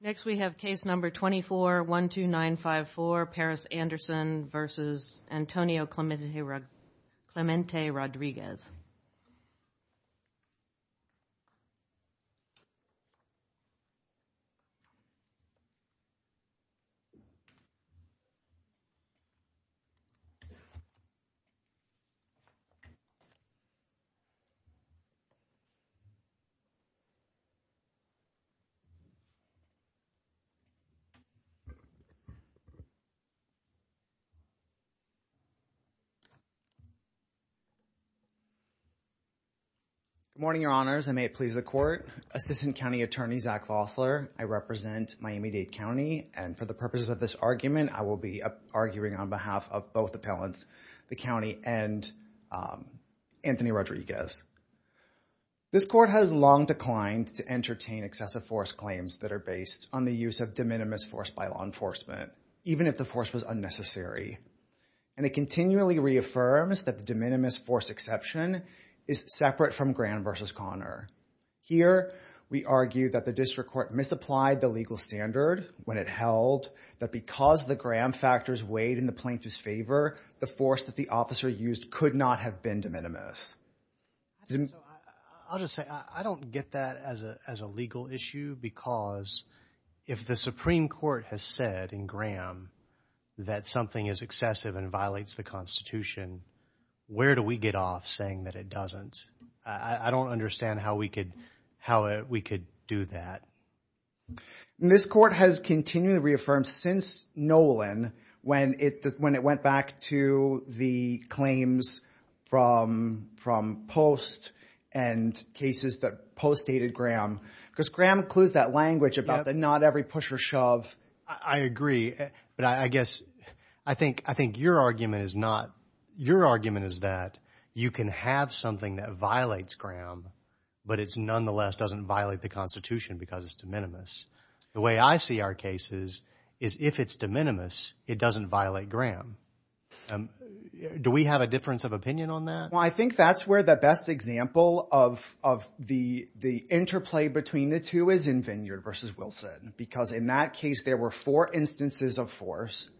Next, we have case number 24-12954, Paris Anderson v. Antonio Clemente Rodriguez. Next, we have case number 24-12954, Paris Anderson v. Antonio Clemente Rodriguez. Good morning, your honors, and may it please the court. Assistant County Attorney Zach Vosler. I represent Miami-Dade County, and for the purposes of this argument, I will be arguing on behalf of both appellants, the county and Anthony Rodriguez. This court has long declined to entertain excessive force claims that are based on the use of de minimis force by law enforcement, even if the force was unnecessary. And it continually reaffirms that the de minimis force exception is separate from Graham v. Conner. Here, we argue that the district court misapplied the legal standard when it held that because the Graham factors weighed in the plaintiff's favor, the force that the officer used could not have been de minimis. I'll just say, I don't get that as a legal issue because if the Supreme Court has said in Graham that something is excessive and violates the Constitution, where do we get off saying that it doesn't? I don't understand how we could do that. This court has continually reaffirmed since Nolan when it went back to the claims from Post and cases that Post dated Graham because Graham includes that language about the not every push or shove. I agree, but I guess I think your argument is that you can have something that violates Graham, but it's nonetheless doesn't violate the Constitution because it's de minimis. The way I see our cases is if it's de minimis, it doesn't violate Graham. Do we have a difference of opinion on that? I think that's where the best example of the interplay between the two is in Vineyard versus Wilson because in that case, there were four instances of force.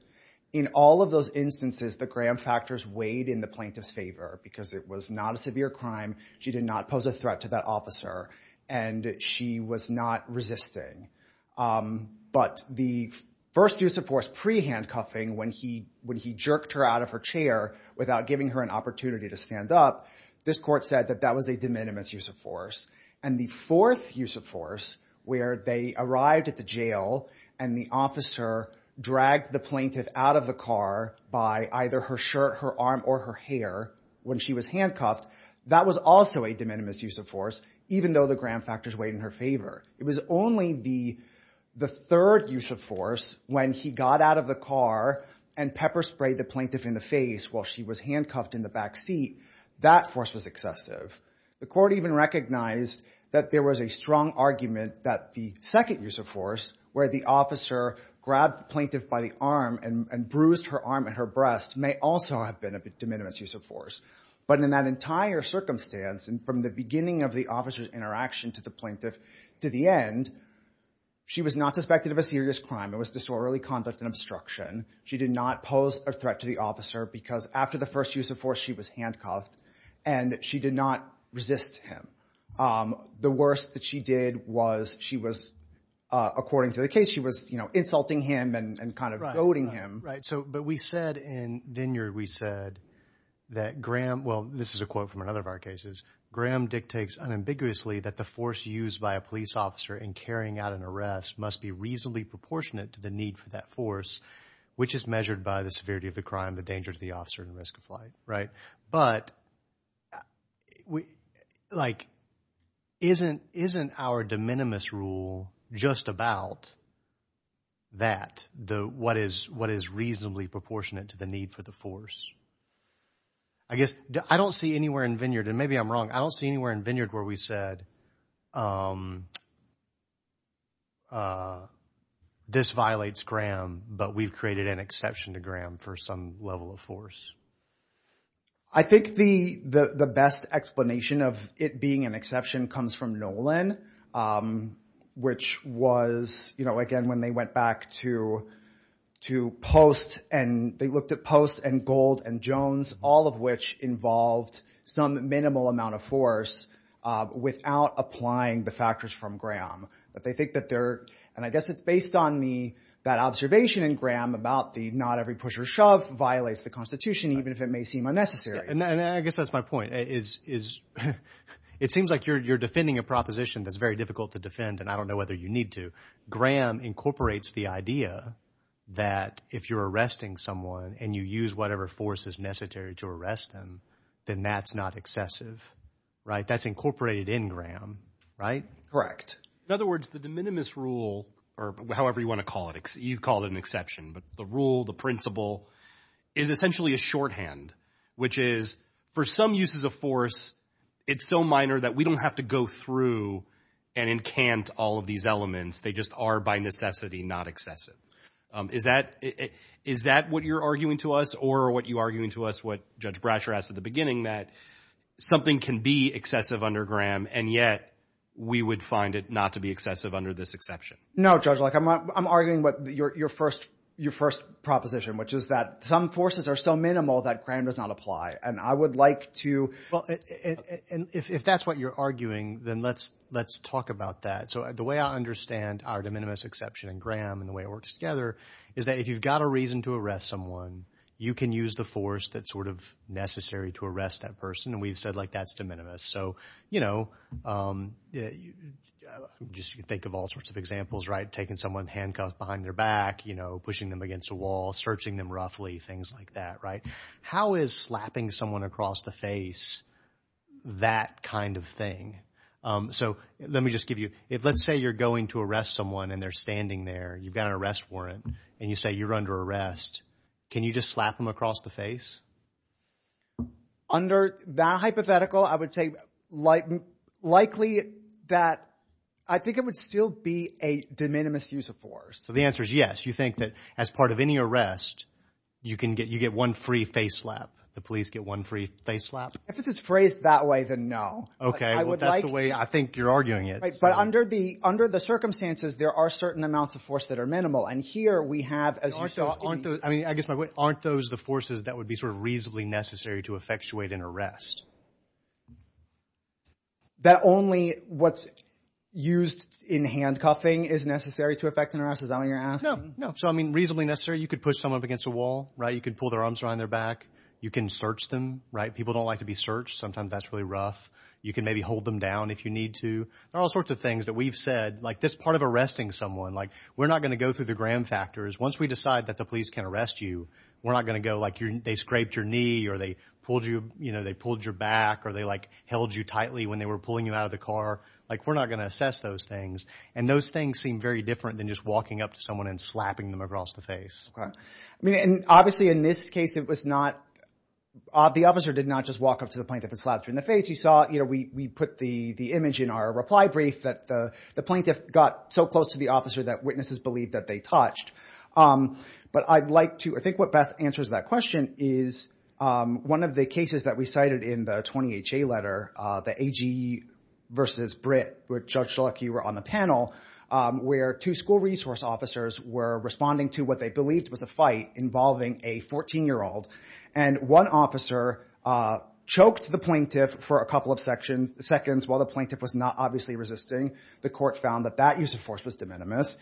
In all of those instances, the Graham factors weighed in the plaintiff's favor because it was not a severe crime. She did not pose a threat to that officer, and she was not resisting. But the first use of force pre-handcuffing when he jerked her out of her chair without giving her an opportunity to stand up, this court said that that was a de minimis use of force. And the fourth use of force where they arrived at the jail and the officer dragged the plaintiff out of the car by either her shirt, her arm, or her hair when she was handcuffed, that was also a de minimis use of force even though the Graham factors weighed in her favor. It was only the third use of force when he got out of the car and pepper sprayed the plaintiff in the face while she was handcuffed in the back seat. That force was excessive. The court even recognized that there was a strong argument that the second use of force where the officer grabbed the plaintiff by the arm and bruised her arm and her breast may also have been a de minimis use of force. But in that entire circumstance, and from the beginning of the officer's interaction to the plaintiff to the end, she was not suspected of a serious crime. It was disorderly conduct and obstruction. She did not pose a threat to the officer because after the first use of force, she was handcuffed, and she did not resist him. The worst that she did was she was, according to the case, she was insulting him and kind of goading him. Right, but we said in Vineyard, we said that Graham – well, this is a quote from another of our cases. Graham dictates unambiguously that the force used by a police officer in carrying out an arrest must be reasonably proportionate to the need for that force, which is measured by the severity of the crime, the danger to the officer, and the risk of flight, right? But like isn't our de minimis rule just about that, what is reasonably proportionate to the need for the force? I guess I don't see anywhere in Vineyard, and maybe I'm wrong. I don't see anywhere in Vineyard where we said this violates Graham, but we've created an exception to Graham for some level of force. I think the best explanation of it being an exception comes from Nolan, which was, again, when they went back to Post and they looked at Post and Gold and Jones, all of which involved some minimal amount of force without applying the factors from Graham. But they think that they're – and I guess it's based on the – that observation in Graham about the not every push or shove violates the constitution even if it may seem unnecessary. And I guess that's my point is it seems like you're defending a proposition that's very difficult to defend and I don't know whether you need to. Graham incorporates the idea that if you're arresting someone and you use whatever force is necessary to arrest them, then that's not excessive, right? That's incorporated in Graham, right? Correct. In other words, the de minimis rule – or however you want to call it. You call it an exception, but the rule, the principle is essentially a shorthand, which is for some uses of force, it's so minor that we don't have to go through and encant all of these elements. They just are by necessity not excessive. Is that what you're arguing to us or what you're arguing to us, what Judge Brasher asked at the beginning, that something can be excessive under Graham and yet we would find it not to be excessive under this exception? No, Judge. I'm arguing what your first proposition, which is that some forces are so minimal that Graham does not apply. And I would like to – If that's what you're arguing, then let's talk about that. So the way I understand our de minimis exception in Graham and the way it works together is that if you've got a reason to arrest someone, you can use the force that's sort of necessary to arrest that person. And we've said like that's de minimis. So just think of all sorts of examples, right? Taking someone handcuffed behind their back, pushing them against a wall, searching them roughly, things like that, right? How is slapping someone across the face that kind of thing? So let me just give you – let's say you're going to arrest someone and they're standing there. You've got an arrest warrant and you say you're under arrest. Can you just slap them across the face? Under that hypothetical, I would say likely that – I think it would still be a de minimis use of force. So the answer is yes. You think that as part of any arrest, you can get – you get one free face slap. The police get one free face slap? If it's phrased that way, then no. Okay. I would like to – That's the way I think you're arguing it. But under the circumstances, there are certain amounts of force that are minimal. And here we have, as you saw – Aren't those – I mean I guess my point – aren't those the forces that would be sort of reasonably necessary to effectuate an arrest? That only what's used in handcuffing is necessary to effect an arrest? Is that what you're asking? No. So, I mean, reasonably necessary. You could push someone up against a wall. You could pull their arms around their back. You can search them. People don't like to be searched. Sometimes that's really rough. You can maybe hold them down if you need to. There are all sorts of things that we've said. Like this part of arresting someone, like we're not going to go through the gram factors. Once we decide that the police can arrest you, we're not going to go like they scraped your knee or they pulled your back or they, like, held you tightly when they were pulling you out of the car. Like we're not going to assess those things. And those things seem very different than just walking up to someone and slapping them across the face. I mean, obviously in this case it was not – the officer did not just walk up to the plaintiff and slap him in the face. You saw – we put the image in our reply brief that the plaintiff got so close to the officer that witnesses believed that they touched. But I'd like to – I think what best answers that question is one of the cases that we cited in the 20HA letter, the AG versus Britt, where Judge Schelecki were on the panel, where two school resource officers were responding to what they believed was a fight involving a 14-year-old. And one officer choked the plaintiff for a couple of seconds while the plaintiff was not obviously resisting. The court found that that use of force was de minimis.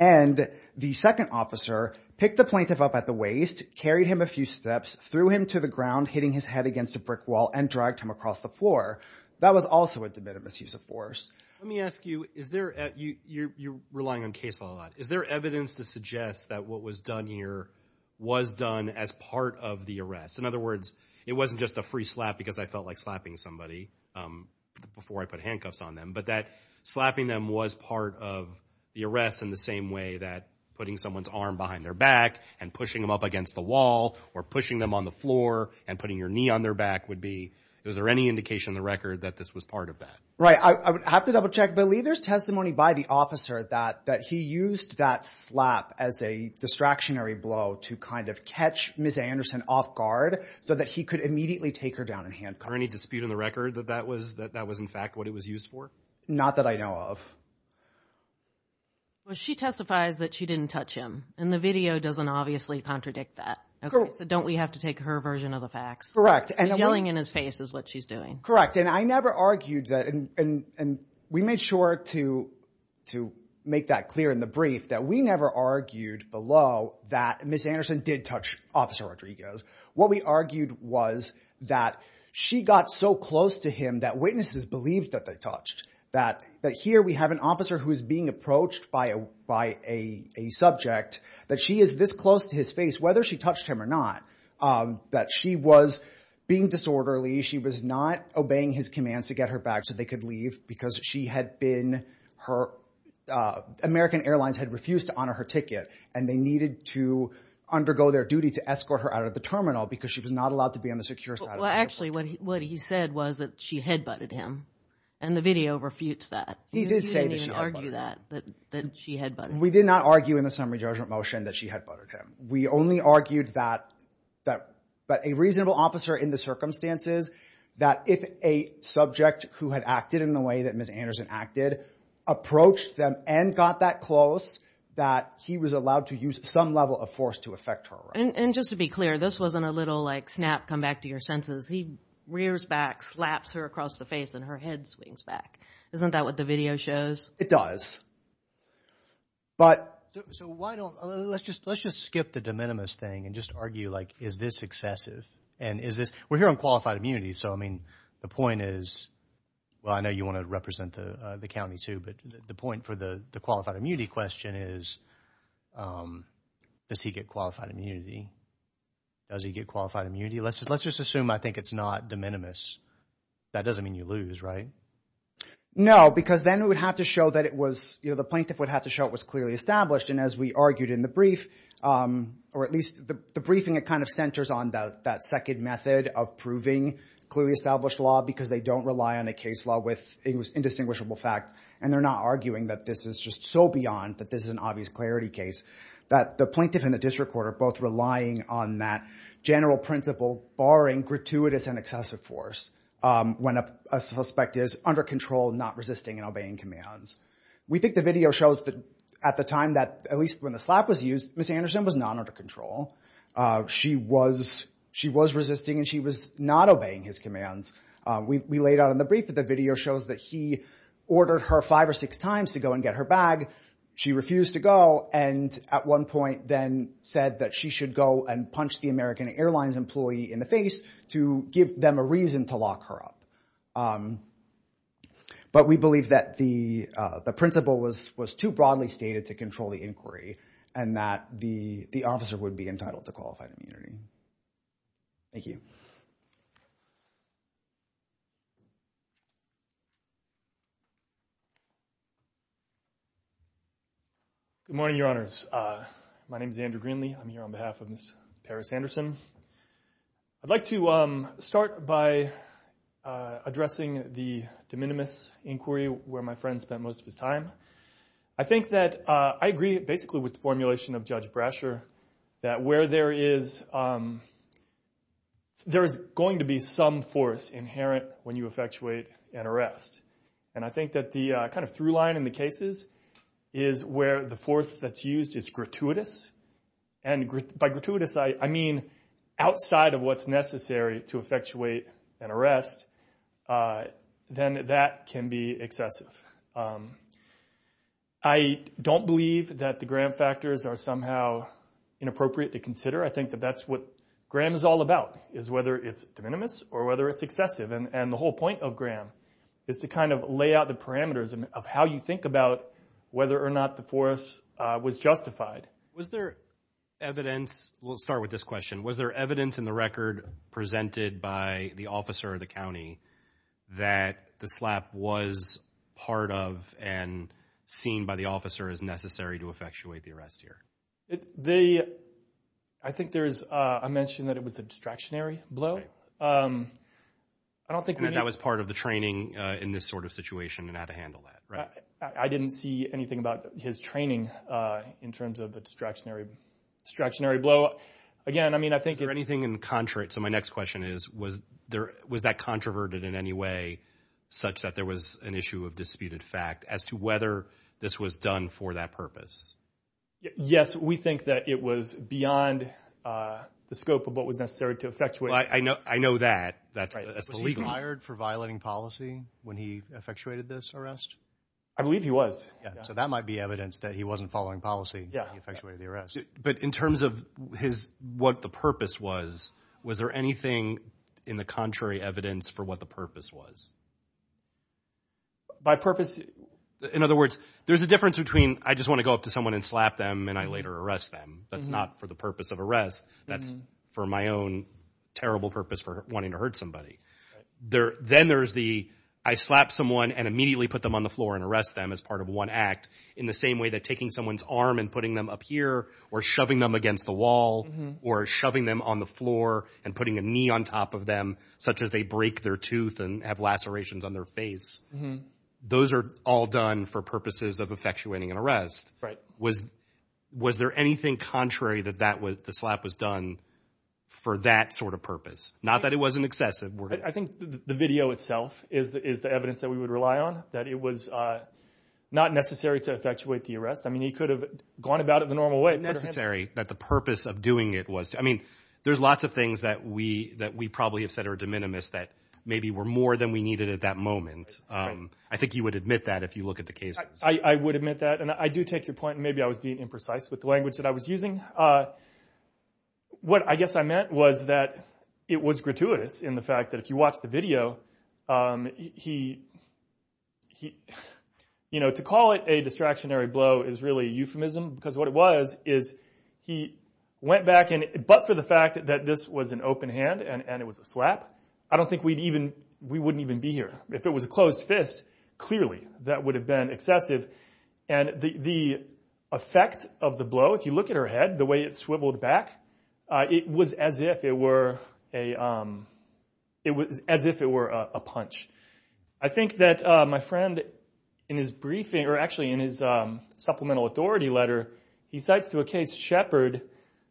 And the second officer picked the plaintiff up at the waist, carried him a few steps, threw him to the ground, hitting his head against a brick wall, and dragged him across the floor. That was also a de minimis use of force. Let me ask you, is there – you're relying on case law a lot. Is there evidence that suggests that what was done here was done as part of the arrest? In other words, it wasn't just a free slap because I felt like slapping somebody before I put handcuffs on them, but that slapping them was part of the arrest in the same way that putting someone's arm behind their back and pushing them up against the wall or pushing them on the floor and putting your knee on their back would be. Is there any indication in the record that this was part of that? Right. I would have to double-check. But Lee, there's testimony by the officer that he used that slap as a distractionary blow to kind of catch Ms. Anderson off guard so that he could immediately take her down in handcuffs. Is there any dispute in the record that that was in fact what it was used for? Not that I know of. Well, she testifies that she didn't touch him, and the video doesn't obviously contradict that. So don't we have to take her version of the facts? He's yelling in his face is what she's doing. Correct, and I never argued that – and we made sure to make that clear in the brief that we never argued below that Ms. Anderson did touch Officer Rodriguez. What we argued was that she got so close to him that witnesses believed that they touched, that here we have an officer who is being approached by a subject, that she is this close to his face, whether she touched him or not, that she was being disorderly, she was not obeying his commands to get her back so they could leave because she had been – American Airlines had refused to honor her ticket, and they needed to undergo their duty to escort her out of the terminal because she was not allowed to be on the secure side of the airport. Actually, what he said was that she headbutted him, and the video refutes that. He did say that she headbutted him. You didn't even argue that, that she headbutted him. We did not argue in the summary judgment motion that she headbutted him. We only argued that a reasonable officer in the circumstances, that if a subject who had acted in the way that Ms. Anderson acted, approached them and got that close, that he was allowed to use some level of force to affect her arrest. And just to be clear, this wasn't a little, like, snap, come back to your senses. He rears back, slaps her across the face, and her head swings back. Isn't that what the video shows? It does. But – So why don't – let's just skip the de minimis thing and just argue, like, is this excessive? And is this – we're here on qualified immunity, so, I mean, the point is – well, I know you want to represent the county too, but the point for the qualified immunity question is does he get qualified immunity? Does he get qualified immunity? Let's just assume I think it's not de minimis. That doesn't mean you lose, right? No, because then we would have to show that it was – the plaintiff would have to show it was clearly established. And as we argued in the brief, or at least the briefing, it kind of centers on that second method of proving clearly established law because they don't rely on a case law with indistinguishable facts. And they're not arguing that this is just so beyond that this is an obvious clarity case, that the plaintiff and the district court are both relying on that general principle, barring gratuitous and excessive force, when a suspect is under control, not resisting, and obeying commands. We think the video shows that at the time that – at least when the slap was used, Ms. Anderson was not under control. She was resisting, and she was not obeying his commands. We laid out in the brief that the video shows that he ordered her five or six times to go and get her bag. She refused to go and at one point then said that she should go and punch the American Airlines employee in the face to give them a reason to lock her up. But we believe that the principle was too broadly stated to control the inquiry and that the officer would be entitled to qualified immunity. Thank you. Andrew Greenlee Good morning, Your Honors. My name is Andrew Greenlee. I'm here on behalf of Ms. Paris Anderson. I'd like to start by addressing the de minimis inquiry where my friend spent most of his time. I think that I agree basically with the formulation of Judge Brasher that where there is – there is going to be some force inherent when you effectuate an arrest. And I think that the kind of through line in the cases is where the force that's used is gratuitous. And by gratuitous, I mean outside of what's necessary to effectuate an arrest. Then that can be excessive. I don't believe that the Graham factors are somehow inappropriate to consider. I think that that's what Graham is all about is whether it's de minimis or whether it's excessive. And the whole point of Graham is to kind of lay out the parameters of how you think about whether or not the force was justified. Was there evidence – we'll start with this question. Was there evidence in the record presented by the officer of the county that the slap was part of and seen by the officer as necessary to effectuate the arrest here? The – I think there is – I mentioned that it was a distractionary blow. I don't think we need – And that was part of the training in this sort of situation and how to handle that, right? I didn't see anything about his training in terms of the distractionary blow. Again, I mean I think it's – So my next question is was that controverted in any way such that there was an issue of disputed fact as to whether this was done for that purpose? Yes, we think that it was beyond the scope of what was necessary to effectuate the arrest. I know that. Was he fired for violating policy when he effectuated this arrest? I believe he was. So that might be evidence that he wasn't following policy when he effectuated the arrest. But in terms of his – what the purpose was, was there anything in the contrary evidence for what the purpose was? By purpose – In other words, there's a difference between I just want to go up to someone and slap them and I later arrest them. That's not for the purpose of arrest. That's for my own terrible purpose for wanting to hurt somebody. Then there's the I slap someone and immediately put them on the floor and arrest them as part of one act in the same way that taking someone's arm and putting them up here or shoving them against the wall or shoving them on the floor and putting a knee on top of them such that they break their tooth and have lacerations on their face. Those are all done for purposes of effectuating an arrest. Was there anything contrary that the slap was done for that sort of purpose? Not that it wasn't excessive. I think the video itself is the evidence that we would rely on, that it was not necessary to effectuate the arrest. I mean he could have gone about it the normal way. Necessary, that the purpose of doing it was. I mean there's lots of things that we probably have said are de minimis that maybe were more than we needed at that moment. I think you would admit that if you look at the cases. I would admit that, and I do take your point, and maybe I was being imprecise with the language that I was using. What I guess I meant was that it was gratuitous in the fact that if you watch the video, he, you know, to call it a distractionary blow is really a euphemism because what it was is he went back and, but for the fact that this was an open hand and it was a slap, I don't think we'd even, we wouldn't even be here. If it was a closed fist, clearly that would have been excessive. And the effect of the blow, if you look at her head, the way it swiveled back, it was as if it were a, it was as if it were a punch. I think that my friend in his briefing, or actually in his supplemental authority letter, he cites to a case Shepard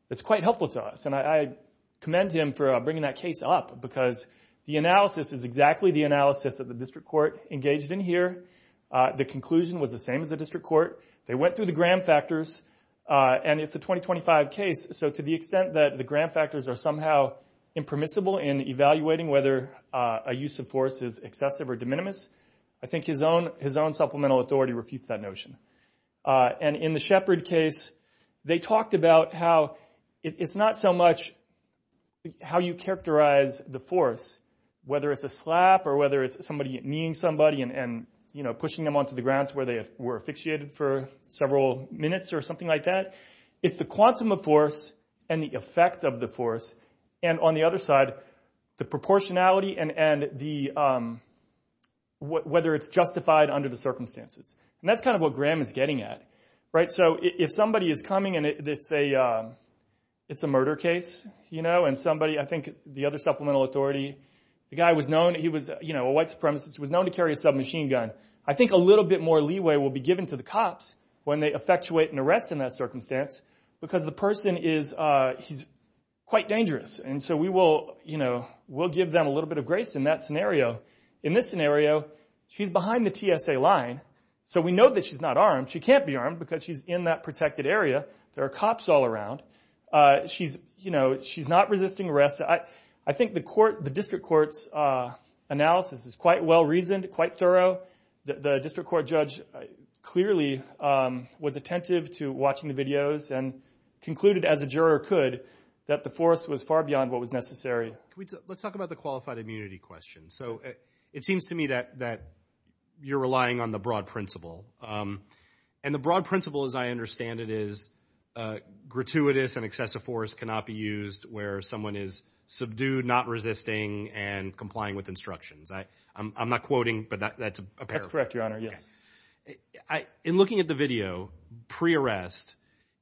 that's quite helpful to us, and I commend him for bringing that case up because the analysis is exactly the analysis that the district court engaged in here. The conclusion was the same as the district court. They went through the gram factors, and it's a 2025 case, so to the extent that the gram factors are somehow impermissible in evaluating whether a use of force is excessive or de minimis, I think his own supplemental authority refutes that notion. And in the Shepard case, they talked about how it's not so much how you characterize the force, whether it's a slap or whether it's somebody kneeing somebody and, you know, pushing them onto the ground to where they were asphyxiated for several minutes or something like that. It's the quantum of force and the effect of the force, and on the other side, the proportionality and whether it's justified under the circumstances. And that's kind of what gram is getting at, right? So if somebody is coming and it's a murder case, you know, and somebody, I think the other supplemental authority, the guy was known, he was, you know, a white supremacist, was known to carry a submachine gun, I think a little bit more leeway will be given to the cops when they effectuate an arrest in that circumstance because the person is quite dangerous. And so we will, you know, we'll give them a little bit of grace in that scenario. In this scenario, she's behind the TSA line, so we know that she's not armed. She can't be armed because she's in that protected area. There are cops all around. She's, you know, she's not resisting arrest. I think the court, the district court's analysis is quite well-reasoned, quite thorough. The district court judge clearly was attentive to watching the videos and concluded as a juror could that the force was far beyond what was necessary. Let's talk about the qualified immunity question. So it seems to me that you're relying on the broad principle. And the broad principle, as I understand it, is gratuitous and excessive force cannot be used where someone is subdued, not resisting, and complying with instructions. I'm not quoting, but that's a paraphrase. That's correct, Your Honor, yes. In looking at the video pre-arrest,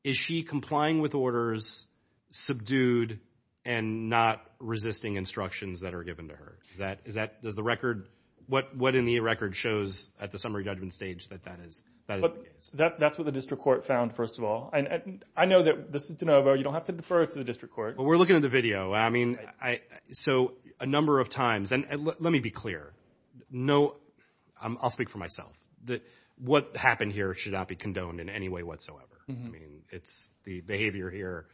is she complying with orders, subdued, and not resisting instructions that are given to her? Does the record, what in the record shows at the summary judgment stage that that is? That's what the district court found, first of all. And I know that this is de novo. You don't have to defer it to the district court. Well, we're looking at the video. So a number of times, and let me be clear. I'll speak for myself. What happened here should not be condoned in any way whatsoever. The behavior here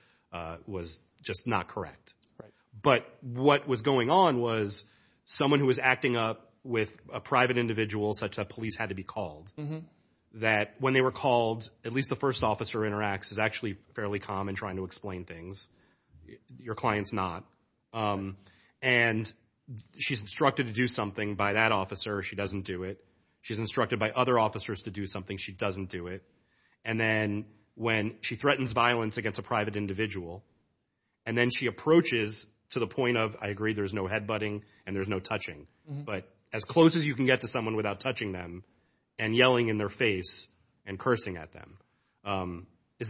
was just not correct. But what was going on was someone who was acting up with a private individual such that police had to be called, that when they were called, at least the first officer who interacts is actually fairly calm in trying to explain things. Your client's not. And she's instructed to do something by that officer. She doesn't do it. She's instructed by other officers to do something. She doesn't do it. And then when she threatens violence against a private individual, and then she approaches to the point of, I agree, there's no head-butting and there's no touching. But as close as you can get to someone without touching them and yelling in their face and cursing at them, is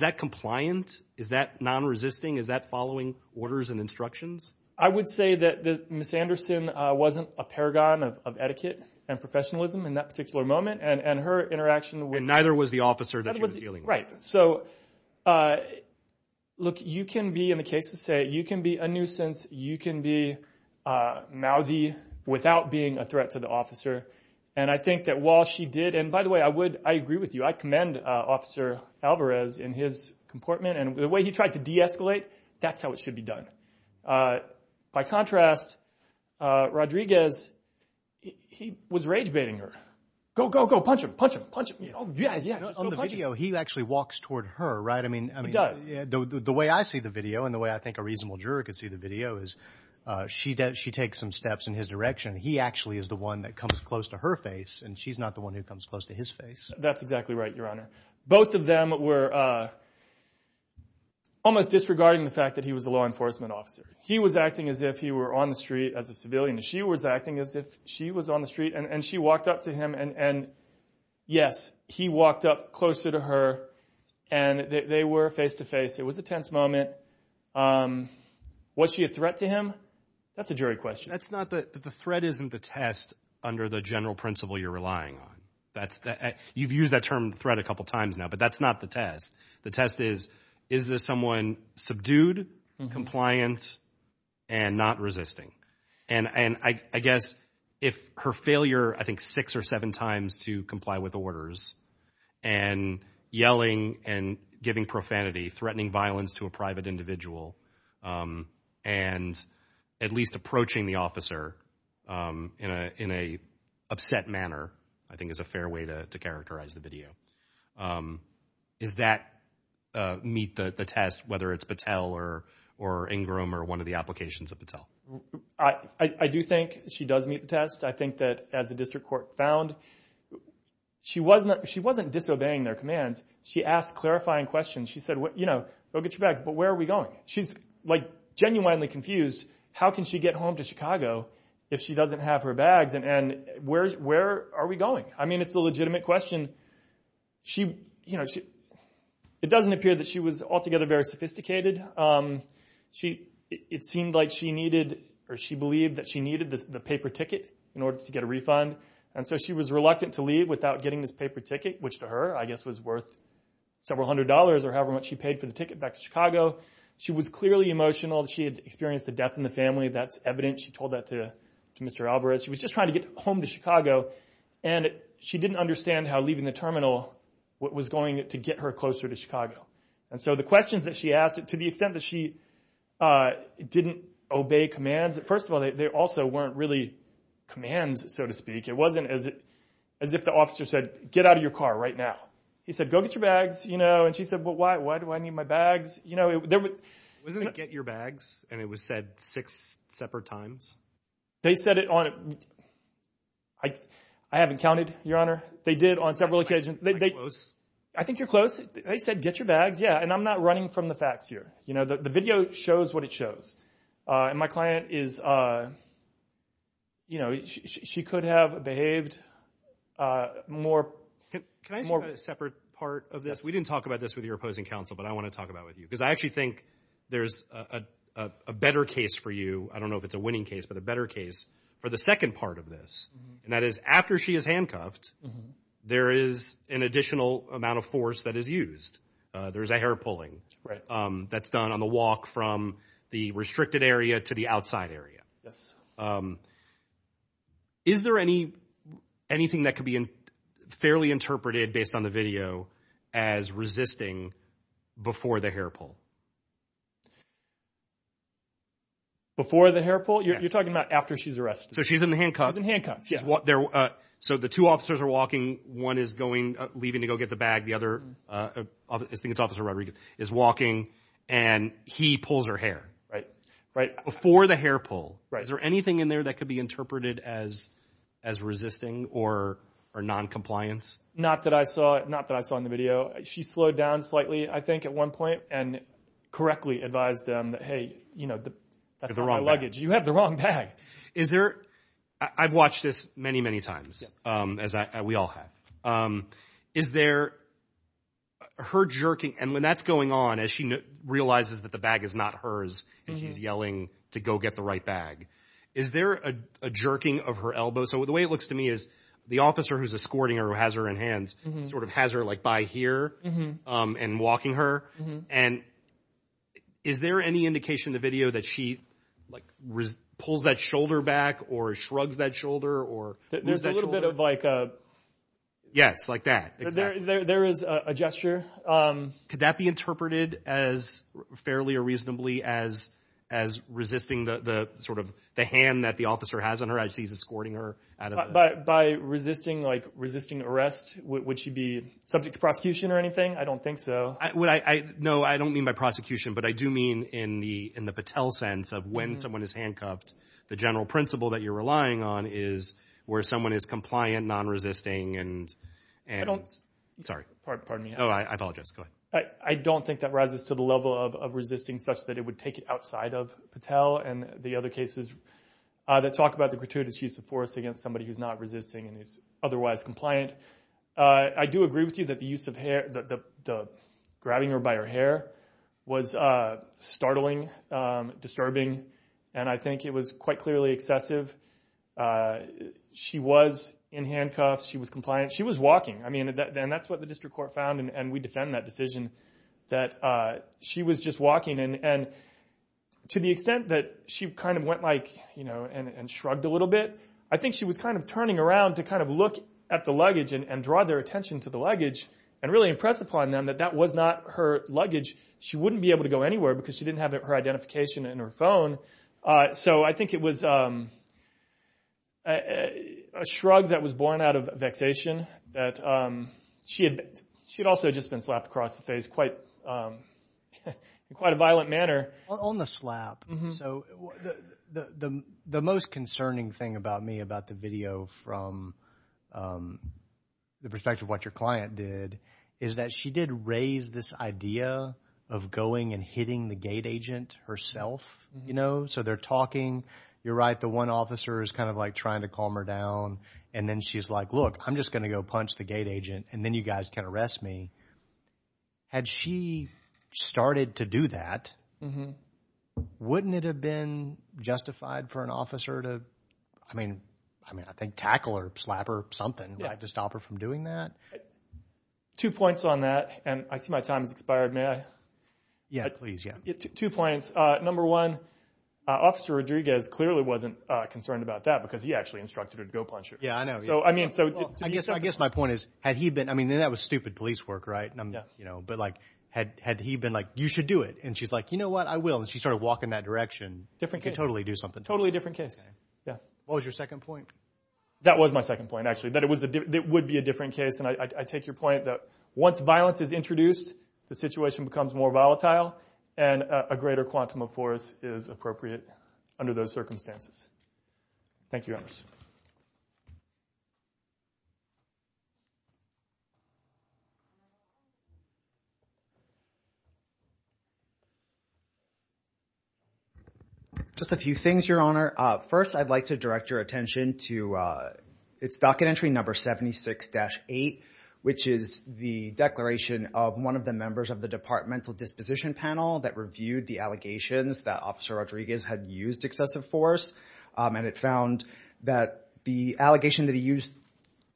that compliant? Is that non-resisting? Is that following orders and instructions? I would say that Ms. Anderson wasn't a paragon of etiquette and professionalism in that particular moment. And her interaction was— And neither was the officer that she was dealing with. Right. So, look, you can be, in the case of say, you can be a nuisance, you can be mouthy without being a threat to the officer. And I think that while she did, and by the way, I agree with you, I commend Officer Alvarez in his comportment. And the way he tried to de-escalate, that's how it should be done. By contrast, Rodriguez, he was rage-baiting her. Go, go, go, punch him, punch him, punch him. On the video, he actually walks toward her, right? He does. The way I see the video and the way I think a reasonable juror could see the video is she takes some steps in his direction. He actually is the one that comes close to her face, and she's not the one who comes close to his face. That's exactly right, Your Honor. Both of them were almost disregarding the fact that he was a law enforcement officer. He was acting as if he were on the street as a civilian. She was acting as if she was on the street, and she walked up to him. And, yes, he walked up closer to her, and they were face-to-face. It was a tense moment. Was she a threat to him? That's a jury question. That's not the – the threat isn't the test under the general principle you're relying on. You've used that term, threat, a couple times now, but that's not the test. The test is, is this someone subdued, compliant, and not resisting? And I guess if her failure, I think, six or seven times to comply with orders and yelling and giving profanity, threatening violence to a private individual, and at least approaching the officer in an upset manner, I think is a fair way to characterize the video. Does that meet the test, whether it's Patel or Ingram or one of the applications of Patel? I do think she does meet the test. I think that as the district court found, she wasn't disobeying their commands. She asked clarifying questions. She said, you know, go get your bags, but where are we going? She's, like, genuinely confused. How can she get home to Chicago if she doesn't have her bags, and where are we going? I mean, it's a legitimate question. She, you know, it doesn't appear that she was altogether very sophisticated. It seemed like she needed or she believed that she needed the paper ticket in order to get a refund, and so she was reluctant to leave without getting this paper ticket, which to her, I guess, was worth several hundred dollars or however much she paid for the ticket back to Chicago. She was clearly emotional. She had experienced a death in the family. That's evident. She told that to Mr. Alvarez. She was just trying to get home to Chicago, and she didn't understand how leaving the terminal was going to get her closer to Chicago. And so the questions that she asked, to the extent that she didn't obey commands, first of all, they also weren't really commands, so to speak. It wasn't as if the officer said, get out of your car right now. He said, go get your bags, you know, and she said, well, why do I need my bags? Wasn't it get your bags, and it was said six separate times? They said it on a—I haven't counted, Your Honor. They did on several occasions. Am I close? I think you're close. They said, get your bags, yeah, and I'm not running from the facts here. The video shows what it shows. And my client is, you know, she could have behaved more— Can I ask you about a separate part of this? We didn't talk about this with your opposing counsel, but I want to talk about it with you because I actually think there's a better case for you. I don't know if it's a winning case, but a better case for the second part of this, and that is after she is handcuffed, there is an additional amount of force that is used. There is a hair pulling that's done on the walk from the restricted area to the outside area. Yes. Is there anything that could be fairly interpreted based on the video as resisting before the hair pull? Before the hair pull? You're talking about after she's arrested. So she's in the handcuffs. She's in the handcuffs, yeah. So the two officers are walking. One is leaving to go get the bag. The other, I think it's Officer Rodriguez, is walking, and he pulls her hair. Right. Before the hair pull. Is there anything in there that could be interpreted as resisting or noncompliance? Not that I saw in the video. She slowed down slightly, I think, at one point and correctly advised them, hey, that's not my luggage. You have the wrong bag. You have the wrong bag. I've watched this many, many times, as we all have. Is there her jerking? And when that's going on, as she realizes that the bag is not hers, and she's yelling to go get the right bag, is there a jerking of her elbows? So the way it looks to me is the officer who's escorting her, who has her in hands, sort of has her, like, by here and walking her. And is there any indication in the video that she, like, pulls that shoulder back or shrugs that shoulder or moves that shoulder? Yes, like that. There is a gesture. Could that be interpreted as fairly or reasonably as resisting the, sort of, the hand that the officer has on her as he's escorting her? By resisting, like, resisting arrest, would she be subject to prosecution or anything? I don't think so. No, I don't mean by prosecution. But I do mean in the Patel sense of when someone is handcuffed, the general principle that you're relying on is where someone is compliant, non-resisting, and— I don't— Sorry. Pardon me. Oh, I apologize. Go ahead. I don't think that rises to the level of resisting such that it would take it outside of Patel and the other cases that talk about the gratuitous use of force against somebody who's not resisting and is otherwise compliant. I do agree with you that the use of hair, the grabbing her by her hair, was startling, disturbing. And I think it was quite clearly excessive. She was in handcuffs. She was compliant. She was walking. I mean, and that's what the district court found, and we defend that decision, that she was just walking. And to the extent that she kind of went, like, you know, and shrugged a little bit, I think she was kind of turning around to kind of look at the luggage and draw their attention to the luggage and really impress upon them that that was not her luggage. She wouldn't be able to go anywhere because she didn't have her identification in her phone. So I think it was a shrug that was born out of vexation that she had also just been slapped across the face in quite a violent manner. On the slap, so the most concerning thing about me about the video from the perspective of what your client did is that she did raise this idea of going and hitting the gate agent herself. You know, so they're talking. You're right, the one officer is kind of, like, trying to calm her down, and then she's like, look, I'm just going to go punch the gate agent, and then you guys can arrest me. Had she started to do that, wouldn't it have been justified for an officer to, I mean, I think tackle or slap her or something to stop her from doing that? Two points on that, and I see my time has expired. May I? Yeah, please, yeah. Two points. Number one, Officer Rodriguez clearly wasn't concerned about that because he actually instructed her to go punch her. Yeah, I know. I guess my point is, had he been, I mean, that was stupid police work, right? Yeah. But, like, had he been like, you should do it, and she's like, you know what, I will, and she started walking that direction. Different case. You could totally do something. Totally different case. What was your second point? That was my second point, actually, that it would be a different case, and I take your point that once violence is introduced, the situation becomes more volatile, and a greater quantum of force is appropriate under those circumstances. Thank you, officers. Just a few things, Your Honor. First, I'd like to direct your attention to its docket entry number 76-8, which is the declaration of one of the members of the departmental disposition panel that reviewed the allegations that Officer Rodriguez had used excessive force, and it found that the allegation that he used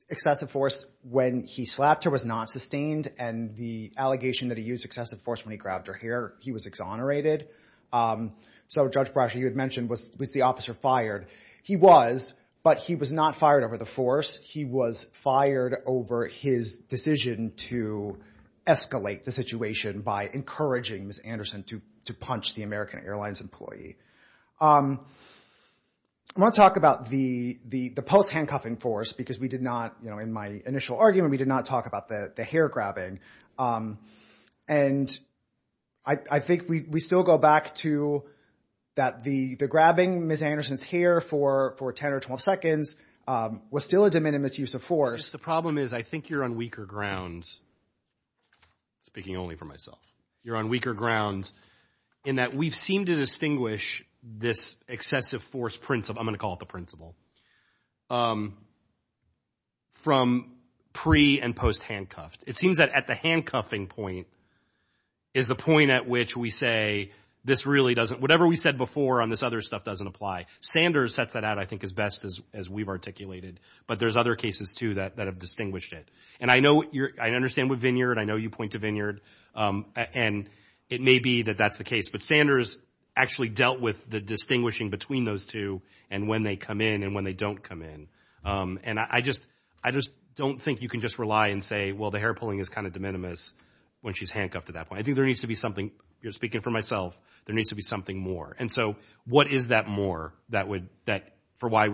excessive force when he slapped her was not sustained, and the allegation that he used excessive force when he grabbed her hair, he was exonerated. So Judge Brasher, you had mentioned, was the officer fired. He was, but he was not fired over the force. He was fired over his decision to escalate the situation by encouraging Ms. Anderson to punch the American Airlines employee. I want to talk about the post-handcuffing force because we did not, in my initial argument, we did not talk about the hair grabbing. And I think we still go back to that the grabbing Ms. Anderson's hair for 10 or 12 seconds was still a de minimis use of force. The problem is I think you're on weaker ground, speaking only for myself. You're on weaker ground in that we've seemed to distinguish this excessive force principle, I'm going to call it the principle, from pre- and post-handcuffed. It seems that at the handcuffing point is the point at which we say this really doesn't, whatever we said before on this other stuff doesn't apply. Sanders sets that out I think as best as we've articulated, but there's other cases too that have distinguished it. And I know you're, I understand with Vineyard, I know you point to Vineyard. And it may be that that's the case. But Sanders actually dealt with the distinguishing between those two and when they come in and when they don't come in. And I just don't think you can just rely and say, well, the hair pulling is kind of de minimis when she's handcuffed at that point. I think there needs to be something, speaking for myself, there needs to be something more. And so what is that more that would, for why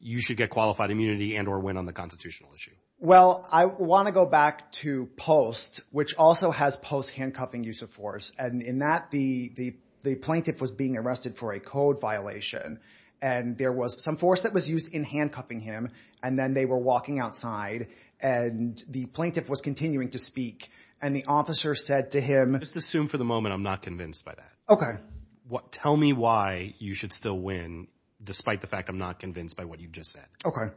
you should get qualified immunity and or win on the constitutional issue? Well, I want to go back to POST, which also has post-handcuffing use of force. And in that the plaintiff was being arrested for a code violation and there was some force that was used in handcuffing him and then they were walking outside and the plaintiff was continuing to speak. And the officer said to him- Just assume for the moment I'm not convinced by that. Okay. Tell me why you should still win despite the fact I'm not convinced by what you've just said. Okay.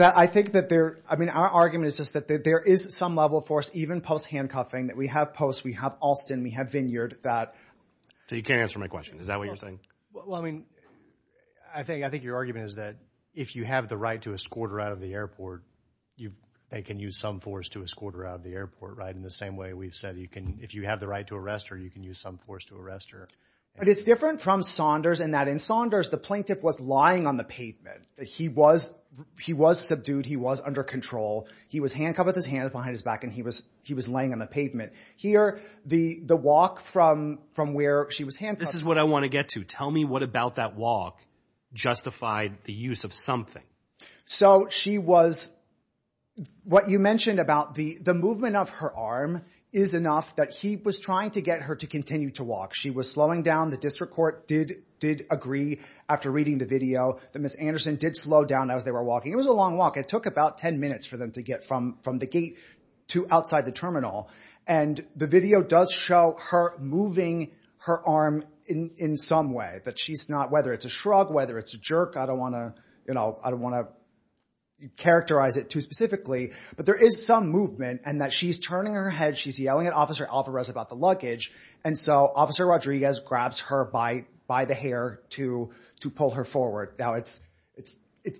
I think that there, I mean, our argument is just that there is some level of force, even post-handcuffing, that we have POST, we have Alston, we have Vineyard, that- So you can't answer my question. Is that what you're saying? Well, I mean, I think your argument is that if you have the right to escort her out of the airport, they can use some force to escort her out of the airport, right? In the same way we've said you can, if you have the right to arrest her, you can use some force to arrest her. But it's different from Saunders in that in Saunders, the plaintiff was lying on the pavement. He was subdued. He was under control. He was handcuffed with his hands behind his back and he was laying on the pavement. Here, the walk from where she was handcuffed- This is what I want to get to. Tell me what about that walk justified the use of something. So she was- What you mentioned about the movement of her arm is enough that he was trying to get her to continue to walk. She was slowing down. The district court did agree after reading the video that Ms. Anderson did slow down as they were walking. It was a long walk. It took about 10 minutes for them to get from the gate to outside the terminal. And the video does show her moving her arm in some way, but she's not- Whether it's a shrug, whether it's a jerk, I don't want to characterize it too specifically. But there is some movement in that she's turning her head. She's yelling at Officer Alvarez about the luggage. And so Officer Rodriguez grabs her by the hair to pull her forward. Now, it's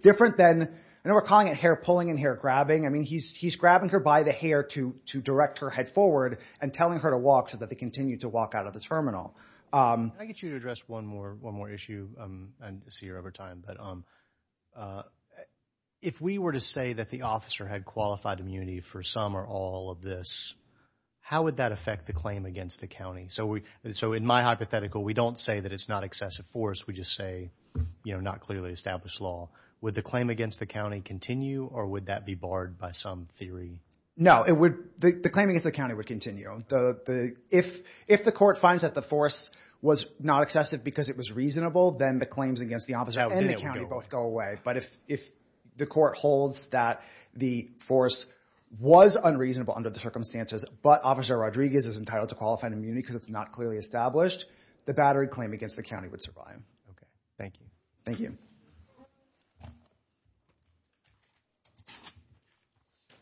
different than- I know we're calling it hair-pulling and hair-grabbing. I mean he's grabbing her by the hair to direct her head forward and telling her to walk so that they continue to walk out of the terminal. Can I get you to address one more issue? I see you're over time. But if we were to say that the officer had qualified immunity for some or all of this, how would that affect the claim against the county? So in my hypothetical, we don't say that it's not excessive force. We just say not clearly established law. Would the claim against the county continue or would that be barred by some theory? No, the claim against the county would continue. If the court finds that the force was not excessive because it was reasonable, then the claims against the officer- And the county both go away. But if the court holds that the force was unreasonable under the circumstances but Officer Rodriguez is entitled to qualified immunity because it's not clearly established, the battery claim against the county would survive. Okay. Thank you. Thank you.